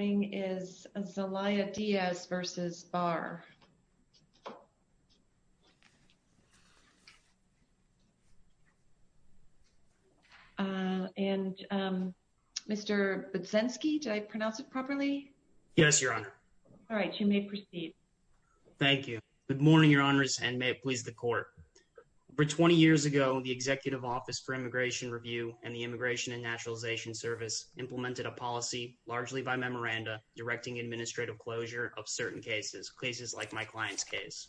is Zelaya Diaz versus Barr, and Mr. Buczynski, did I pronounce it properly? Yes, Your Honor. All right, you may proceed. Thank you. Good morning, Your Honors, and may it please the Court. Over 20 years ago, the Executive Office for Immigration Review and the Immigration and Naturalization Service implemented a direct administrative closure of certain cases, cases like my client's case.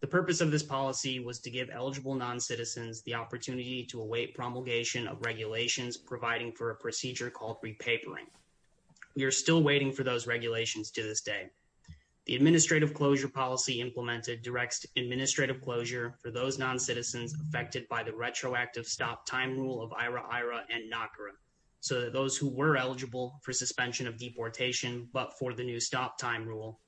The purpose of this policy was to give eligible non-citizens the opportunity to await promulgation of regulations providing for a procedure called repapering. We are still waiting for those regulations to this day. The administrative closure policy implemented directs administrative closure for those non-citizens affected by the retroactive stop-time rule of suspension of deportation, but for the new stop-time rule,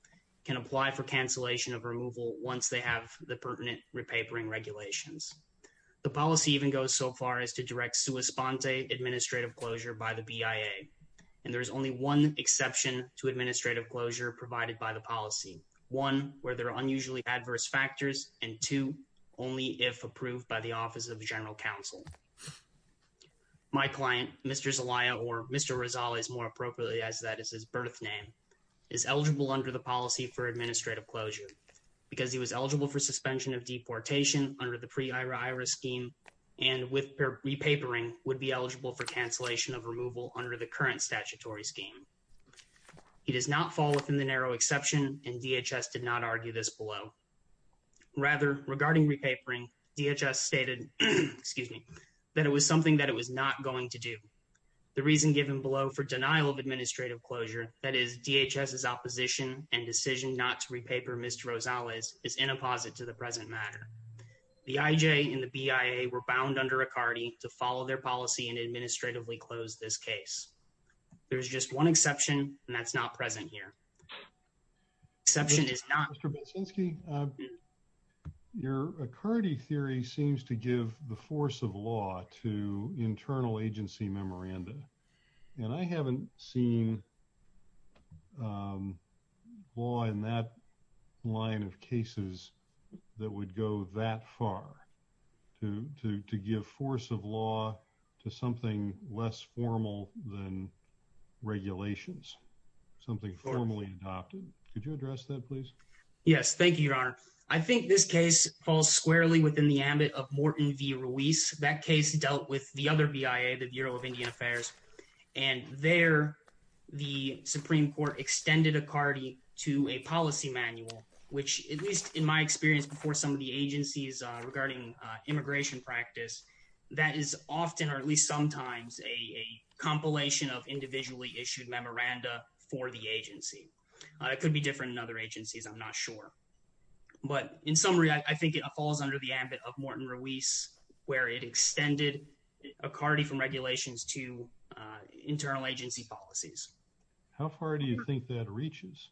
can apply for cancellation of removal once they have the pertinent repapering regulations. The policy even goes so far as to direct sua sponte administrative closure by the BIA, and there is only one exception to administrative closure provided by the policy. One, where there are unusually adverse factors, and two, only if approved by the Office of General Counsel. My client, Mr. Zelaya, or Mr. Rizal, is more appropriately as that is his birth name, is eligible under the policy for administrative closure because he was eligible for suspension of deportation under the pre-IHRA scheme, and with repapering would be eligible for cancellation of removal under the current statutory scheme. He does not fall within the narrow exception, and DHS did not argue this below. Rather, regarding repapering, DHS stated, excuse me, that it was something that it was not going to do. The reason given below for denial of administrative closure, that is DHS's opposition and decision not to repaper Mr. Rizal is inapposite to the present matter. The IJ and the BIA were bound under ACARDI to follow their policy and administratively close this case. There's just one exception, and that's not present here. Exception is not... Mr. Belsinski, your ACARDI theory seems to give the force of law to internal agency memoranda, and I haven't seen law in that line of cases that would go that far to give force of law to something less formal than regulations, something formally adopted. Could you address that, please? Yes, thank you, Your Honor. I think this case falls squarely within the Ruiz. That case dealt with the other BIA, the Bureau of Indian Affairs, and there the Supreme Court extended ACARDI to a policy manual, which at least in my experience before some of the agencies regarding immigration practice, that is often, or at least sometimes, a compilation of individually issued memoranda for the agency. It could be different in other agencies, I'm not sure. But in summary, I think it falls under the ambit of Morton Ruiz, where it extended ACARDI from regulations to internal agency policies. How far do you think that reaches?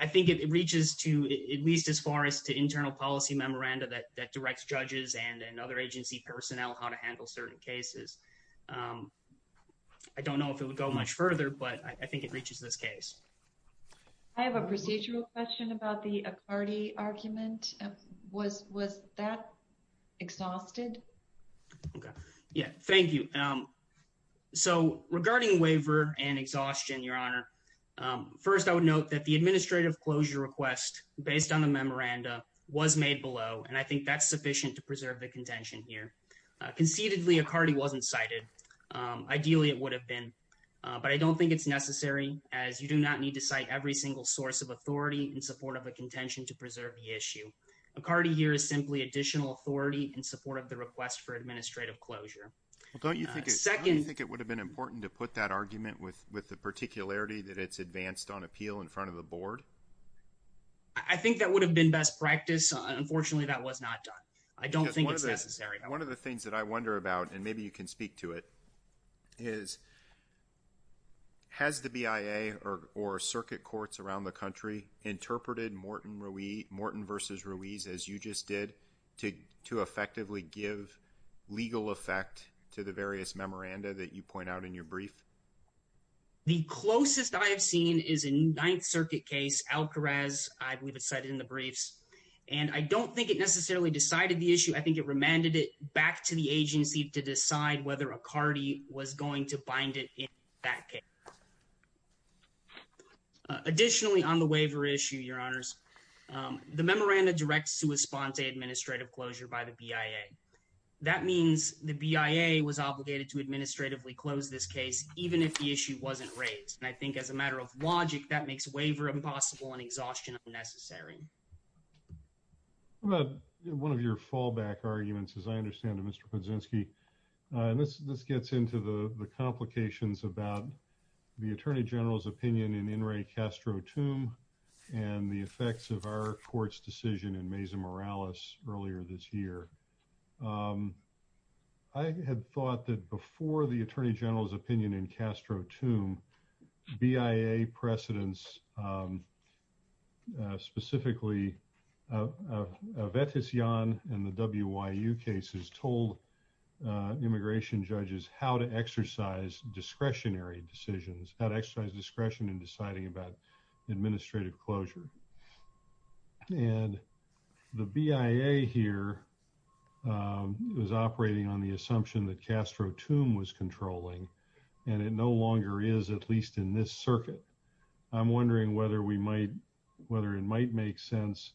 I think it reaches to at least as far as to internal policy memoranda that directs judges and other agency personnel how to handle certain cases. I don't know if it would go much further, but I think it reaches this case. I have a procedural question about the ACARDI argument. Was that exhausted? Okay, yeah, thank you. So regarding waiver and exhaustion, Your Honor, first I would note that the administrative closure request based on the memoranda was made below, and I think that's sufficient to preserve the contention here. Conceitedly, ACARDI wasn't cited. Ideally, it would have been, but I don't think it's necessary, as you do not need to cite every single source of authority in support of a contention to preserve the issue. ACARDI here is simply additional authority in support of the request for administrative closure. Don't you think it would have been important to put that argument with the particularity that it's advanced on appeal in front of the board? I think that would have been best practice. Unfortunately, that was not done. I don't think it's necessary. One of the things that I wonder about, and has the BIA or circuit courts around the country interpreted Morton versus Ruiz, as you just did, to effectively give legal effect to the various memoranda that you point out in your brief? The closest I have seen is a Ninth Circuit case, Alcarez. I believe it's cited in the briefs, and I don't think it necessarily decided the issue. I think it remanded it back to the back. Additionally, on the waiver issue, your honors, the memoranda directs to respond to administrative closure by the BIA. That means the BIA was obligated to administratively close this case, even if the issue wasn't raised. And I think as a matter of logic, that makes waiver impossible and exhaustion necessary. What about one of your fallback arguments? As I understand it, Mr the Attorney General's opinion in In re Castro tomb and the effects of our court's decision in Mesa Morales earlier this year, I had thought that before the Attorney General's opinion in Castro tomb BIA precedents, specifically of that is young and the W. Y. U. Cases told immigration judges how to exercise discretionary decisions, how to exercise discretion in deciding about administrative closure. And the BIA here was operating on the assumption that Castro tomb was controlling, and it no longer is, at least in this circuit. I'm wondering whether we might whether it might make sense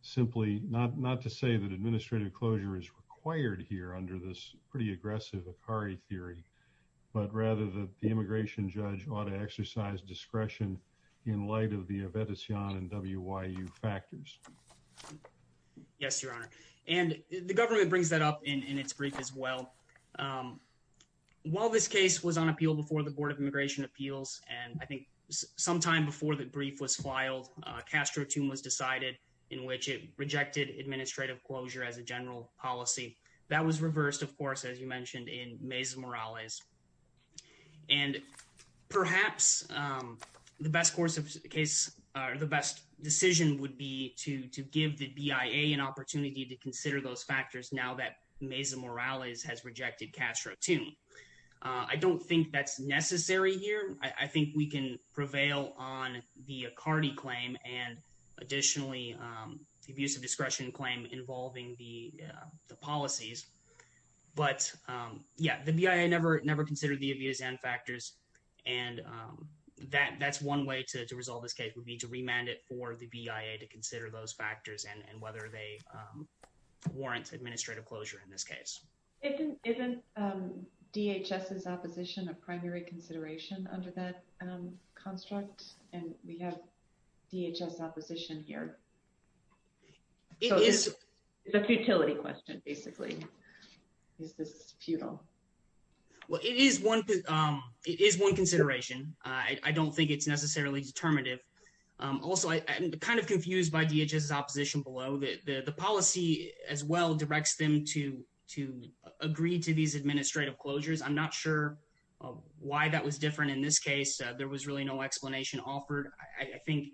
simply not not to say that administrative closure is required here under this pretty aggressive Akari theory, but rather that the immigration judge ought to exercise discretion in light of the event is young and W. Y. U. Factors. Yes, Your Honor. And the government brings that up in its brief as well. Um, while this case was on appeal before the Board of Immigration Appeals and I was decided in which it rejected administrative closure as a general policy that was reversed, of course, as you mentioned in Mesa Morales. And perhaps, um, the best course of case are the best decision would be to give the BIA an opportunity to consider those factors. Now that Mesa Morales has rejected Castro to I don't think that's necessary here. I think we can prevail on the Akari claim and additionally, um, the abuse of discretion claim involving the policies. But, um, yeah, the BIA never never considered the abuse and factors, and, um, that that's one way to resolve this case would be to remand it for the BIA to consider those factors and whether they, um, warrants administrative closure in this case. It isn't DHS is opposition of primary consideration under that construct, and we have DHS opposition here. It is a futility question. Basically, is this futile? Well, it is one. It is one consideration. I don't think it's necessarily determinative. Also, I'm kind of confused by DHS opposition below the policy as well directs them to to agree to these administrative closures. I'm not sure why that was different. In this case, there was really no explanation offered. I think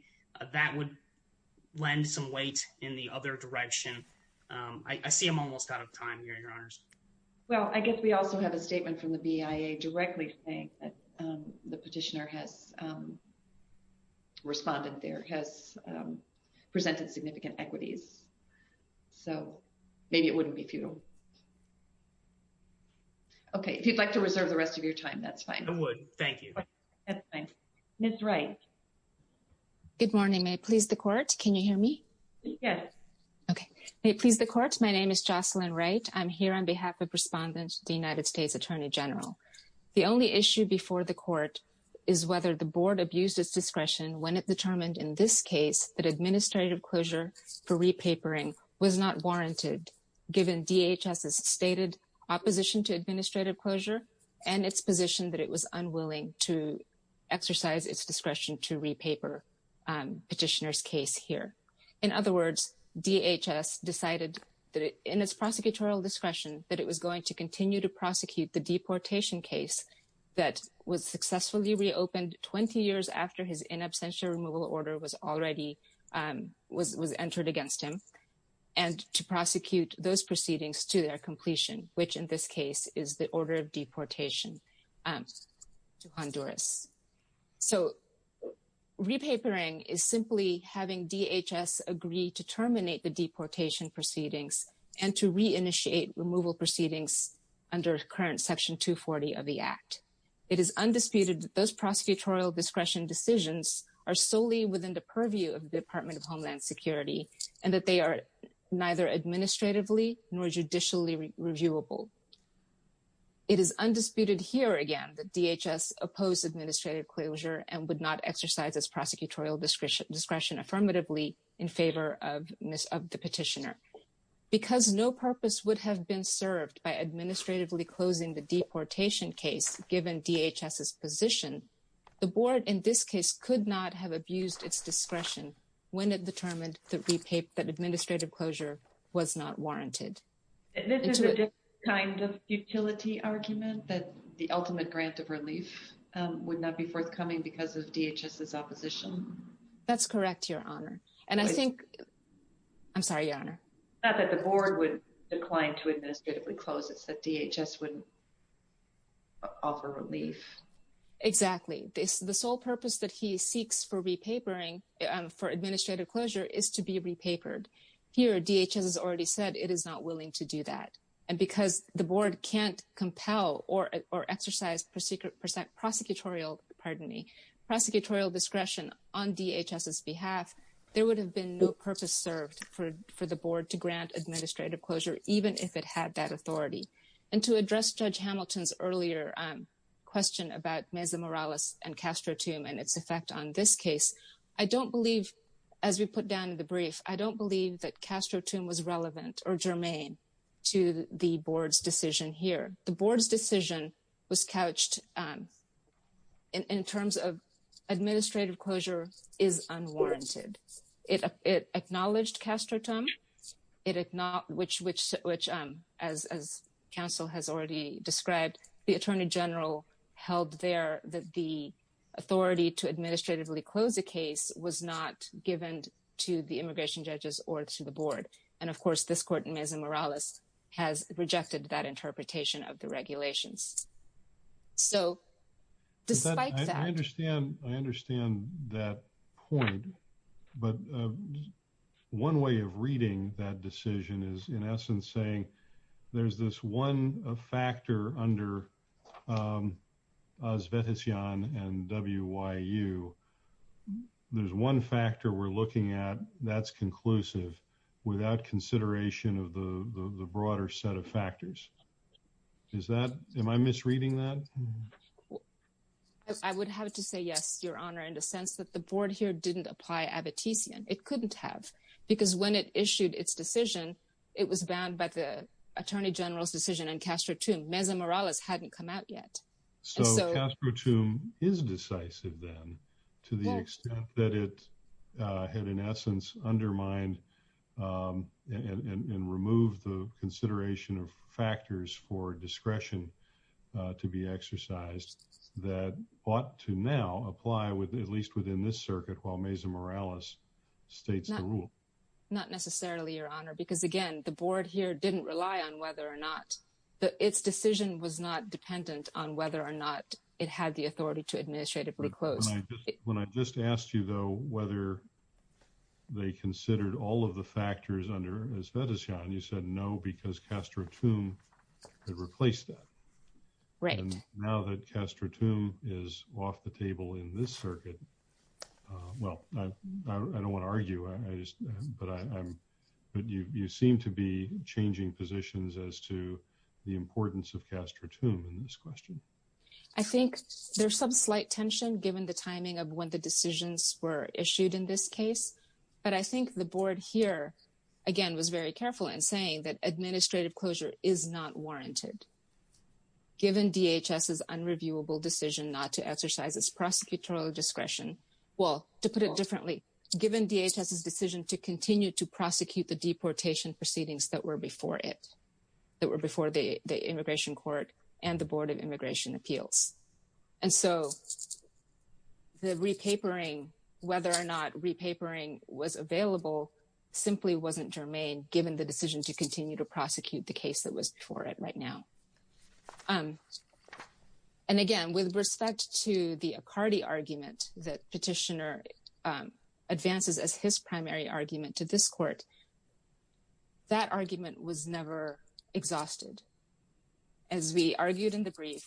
that would lend some weight in the other direction. I see him almost out of time here. Your honors. Well, I guess we also have a statement from the BIA directly saying that the petitioner has, um, responded. There has, um, presented significant equities, so maybe it wouldn't be futile. Okay, if you'd like to reserve the rest of your time, that's fine. I would. Thank you. That's fine. That's right. Good morning. May please the court. Can you hear me? Yes. Okay. Please. The court. My name is Jocelyn, right? I'm here on behalf of respondents. The United States Attorney General. The only issue before the court is whether the board abuses discretion when it determined in this case that DHS is stated opposition to administrative closure and its position that it was unwilling to exercise its discretion to re paper petitioner's case here. In other words, DHS decided that in its prosecutorial discretion that it was going to continue to prosecute the deportation case that was successfully reopened 20 years after his in absentia removal order was entered against him and to prosecute those proceedings to their completion, which in this case is the order of deportation, um, to Honduras. So repapering is simply having DHS agree to terminate the deportation proceedings and to reinitiate removal proceedings under current Section 2 40 of the Act. It is undisputed that those prosecutorial discretion decisions are and that they are neither administratively nor judicially reviewable. It is undisputed here again that DHS opposed administrative closure and would not exercise its prosecutorial discretion discretion affirmatively in favor of miss of the petitioner because no purpose would have been served by administratively closing the deportation case. Given DHS is position, the board in this case could not have abused its discretion when it determined the paper that administrative closure was not warranted. This is a different kind of utility argument that the ultimate grant of relief would not be forthcoming because of DHS is opposition. That's correct, Your Honor. And I think I'm sorry, Your Honor, not that the board would decline to administratively close. It's that DHS wouldn't offer relief. Exactly. The sole purpose that he seeks for repapering for repapered here, DHS has already said it is not willing to do that. And because the board can't compel or or exercise persecute percent prosecutorial pardon me, prosecutorial discretion on DHS's behalf, there would have been no purpose served for for the board to grant administrative closure, even if it had that authority and to address Judge Hamilton's earlier question about Mesa Morales and Castro Tomb and its effect on this case. I don't believe as we put down in the brief, I don't believe that Castro Tomb was relevant or germane to the board's decision here. The board's decision was couched in terms of administrative closure is unwarranted. It acknowledged Castro Tom. It is not which which which as as counsel has already described, the attorney general held there that the authority to administratively close the is not given to the immigration judges or to the board. And of course, this court in Mesa Morales has rejected that interpretation of the regulations. So despite that, I understand, I understand that point. But one way of reading that decision is in essence saying there's this one factor under Uzbekistan and W. Y. U. There's one factor we're looking at that's conclusive without consideration of the broader set of factors. Is that am I misreading that? I would have to say yes, your honor, in the sense that the board here didn't apply Abit. It couldn't have because when it issued its decision, it was bound by the attorney general's decision and Castro to Mesa Morales hadn't come out yet. So Castro tomb is decisive then to the extent that it had in essence undermined, um, and remove the consideration of factors for discretion to be exercised that ought to now apply with at least within this circuit. While Mesa Morales states the rule, not necessarily your honor, because again, the board here didn't rely on whether or not its decision was not dependent on whether or not it had the authority to administratively close. When I just asked you, though, whether they considered all of the factors under as medicine, you said no, because Castro tomb replaced that right now that Castro tomb is off the table in this circuit. Well, I don't wanna argue, but I'm but you seem to be changing positions as to the importance of Castro tomb in this question. I think there's some slight tension given the timing of when the decisions were issued in this case. But I think the board here again was very careful in saying that administrative closure is not warranted. Given DHS is unreviewable decision not to exercise its prosecutorial discretion. Well, to put it differently, given DHS decision to continue to it that were before the immigration court and the board of immigration appeals. And so the repapering whether or not repapering was available simply wasn't germane, given the decision to continue to prosecute the case that was before it right now. Um, and again, with respect to the cardi argument that petitioner advances as his primary argument to this court, that argument was never exhausted. As we argued in the brief,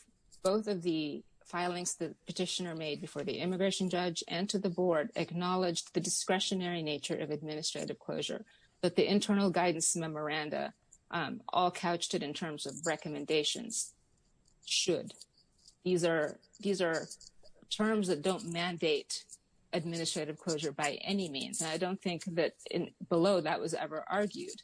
both of the filings the petitioner made before the immigration judge and to the board acknowledged the discretionary nature of administrative closure, but the internal guidance memoranda all couched it in terms of recommendations should. These air. These air terms that don't mandate administrative closure by any means. I don't think that below that was ever argued.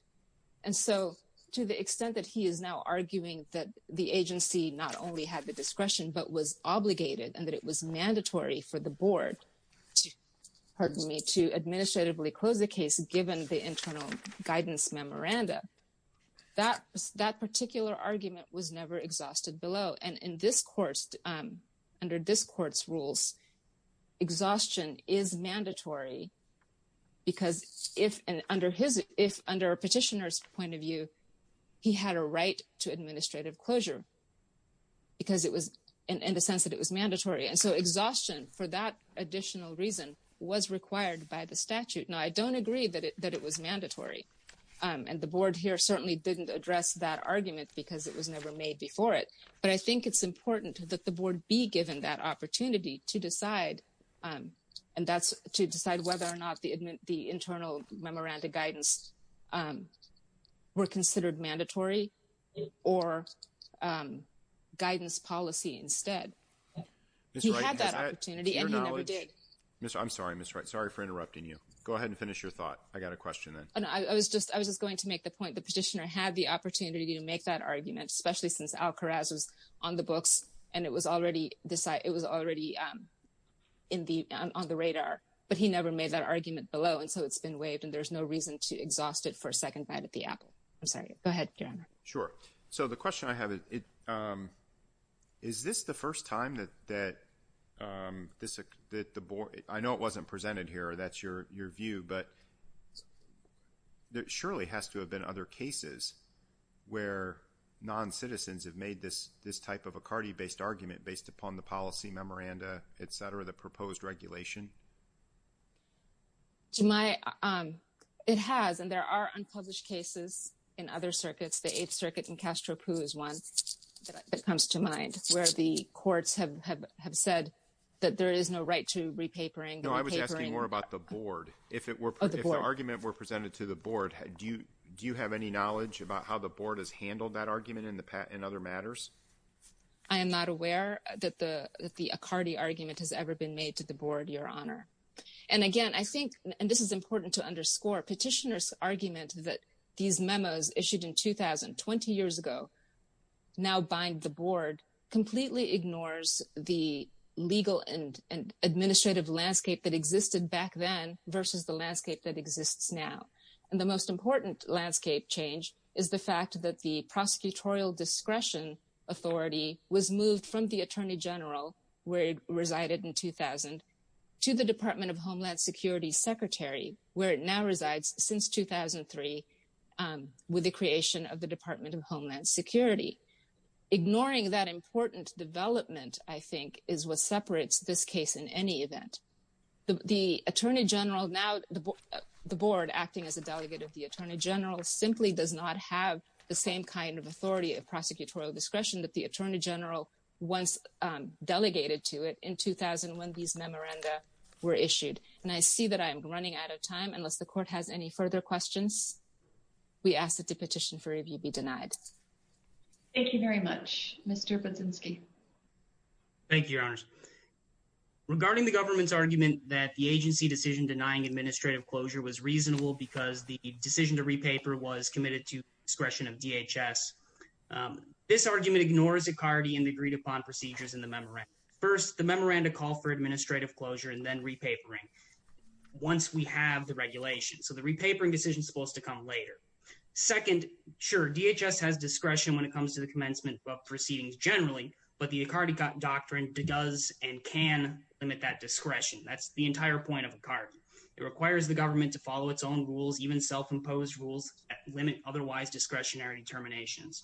And so to the extent that he is now arguing that the agency not only had the discretion but was obligated and that it was mandatory for the board. Pardon me to administratively close the case. Given the internal guidance memoranda, that that particular argument was never exhausted below. And in this course, under this court's rules, exhaustion is mandatory because if under his, if under a petitioner's point of view, he had a right to administrative closure because it was in the sense that it was mandatory. And so exhaustion for that additional reason was required by the statute. Now, I don't agree that that it was mandatory. Um, and the board here certainly didn't address that argument because it was never made before it. But I think it's important that the board be given that opportunity to decide. Um, and that's to decide whether or not the the internal memoranda guidance, um, were considered mandatory or, um, guidance policy instead. He had that opportunity and he never did. Mr. I'm sorry, Mr. Sorry for interrupting you. Go ahead and finish your thought. I got a question. And I was just I was just going to make the point. The petitioner had the opportunity to make that argument, especially since Al Kharraz was on the books, and it was already decided it was already, um, in the on the radar. But he never made that argument below. And so it's been waived, and there's no reason to exhaust it for a second bite at the apple. I'm sorry. Go ahead. Sure. So the question I have it, um, is this the first time that that, um, this that the board I know it wasn't presented here. That's your your view. But it surely has to have been other cases where non citizens have made this this type of a cardi based argument based upon the policy, memoranda, etcetera. The proposed regulation to my, um, it has. And there are unpublished cases in other circuits. The Eighth Circuit in Castro Poo is one that comes to mind where the courts have have have said that there is no right to repapering. No, I was asking more about the board. If it were, if the argument were presented to the board, do you do you have any knowledge about how the board has handled that argument in the in other matters? I am not aware that the that the cardi argument has ever been made to the board, Your Honor. And again, I think and this is important to underscore petitioners argument that these memos issued in 2000 20 years ago now bind the board completely ignores the legal and that existed back then versus the landscape that exists now. And the most important landscape change is the fact that the prosecutorial discretion authority was moved from the attorney general where it resided in 2000 to the Department of Homeland Security secretary, where it now resides since 2003 with the creation of the Department of Homeland Security. Ignoring that important development, I think, is what separates this case in any event. The attorney general now the board acting as a delegate of the attorney general simply does not have the same kind of authority of prosecutorial discretion that the attorney general once delegated to it in 2000 when these memoranda were issued. And I see that I am running out of time unless the court has any further questions. We asked the petition for review be denied. Thank you very much, Mr Patzinski. Thank you, Your Honor. Regarding the government's argument that the agency decision denying administrative closure was reasonable because the decision to repaper was committed to discretion of DHS. Um, this argument ignores a cardian agreed upon procedures in the memory. First, the memoranda call for administrative closure and then repapering once we have the regulation. So the repapering decision supposed to come later. Second, sure, DHS has commencement proceedings generally, but the cardiac doctrine does and can limit that discretion. That's the entire point of a card. It requires the government to follow its own rules, even self imposed rules limit otherwise discretionary determinations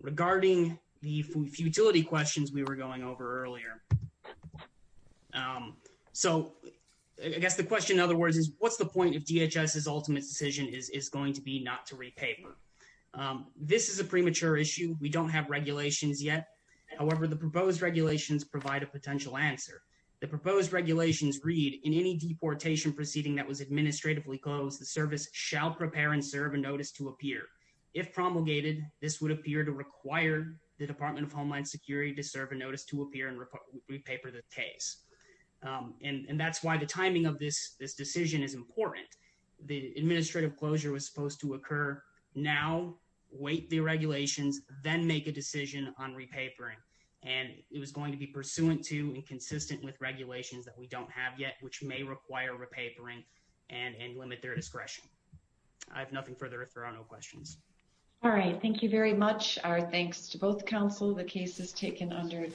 regarding the futility questions we were going over earlier. Um, so I guess the question, in other words, is what's the point of DHS? His ultimate decision is going to be not to repay. Um, this is a premature issue. We don't have regulations yet. However, the proposed regulations provide a potential answer. The proposed regulations read in any deportation proceeding that was administratively closed, the service shall prepare and serve a notice to appear. If promulgated, this would appear to require the Department of Homeland Security to serve a notice to appear and repaper the case. Um, and that's why the timing of this this decision is important. The administrative closure was supposed to then make a decision on repapering, and it was going to be pursuant to and consistent with regulations that we don't have yet, which may require repapering and limit their discretion. I have nothing further. If there are no questions. All right. Thank you very much. Our thanks to both Council. The case is taken under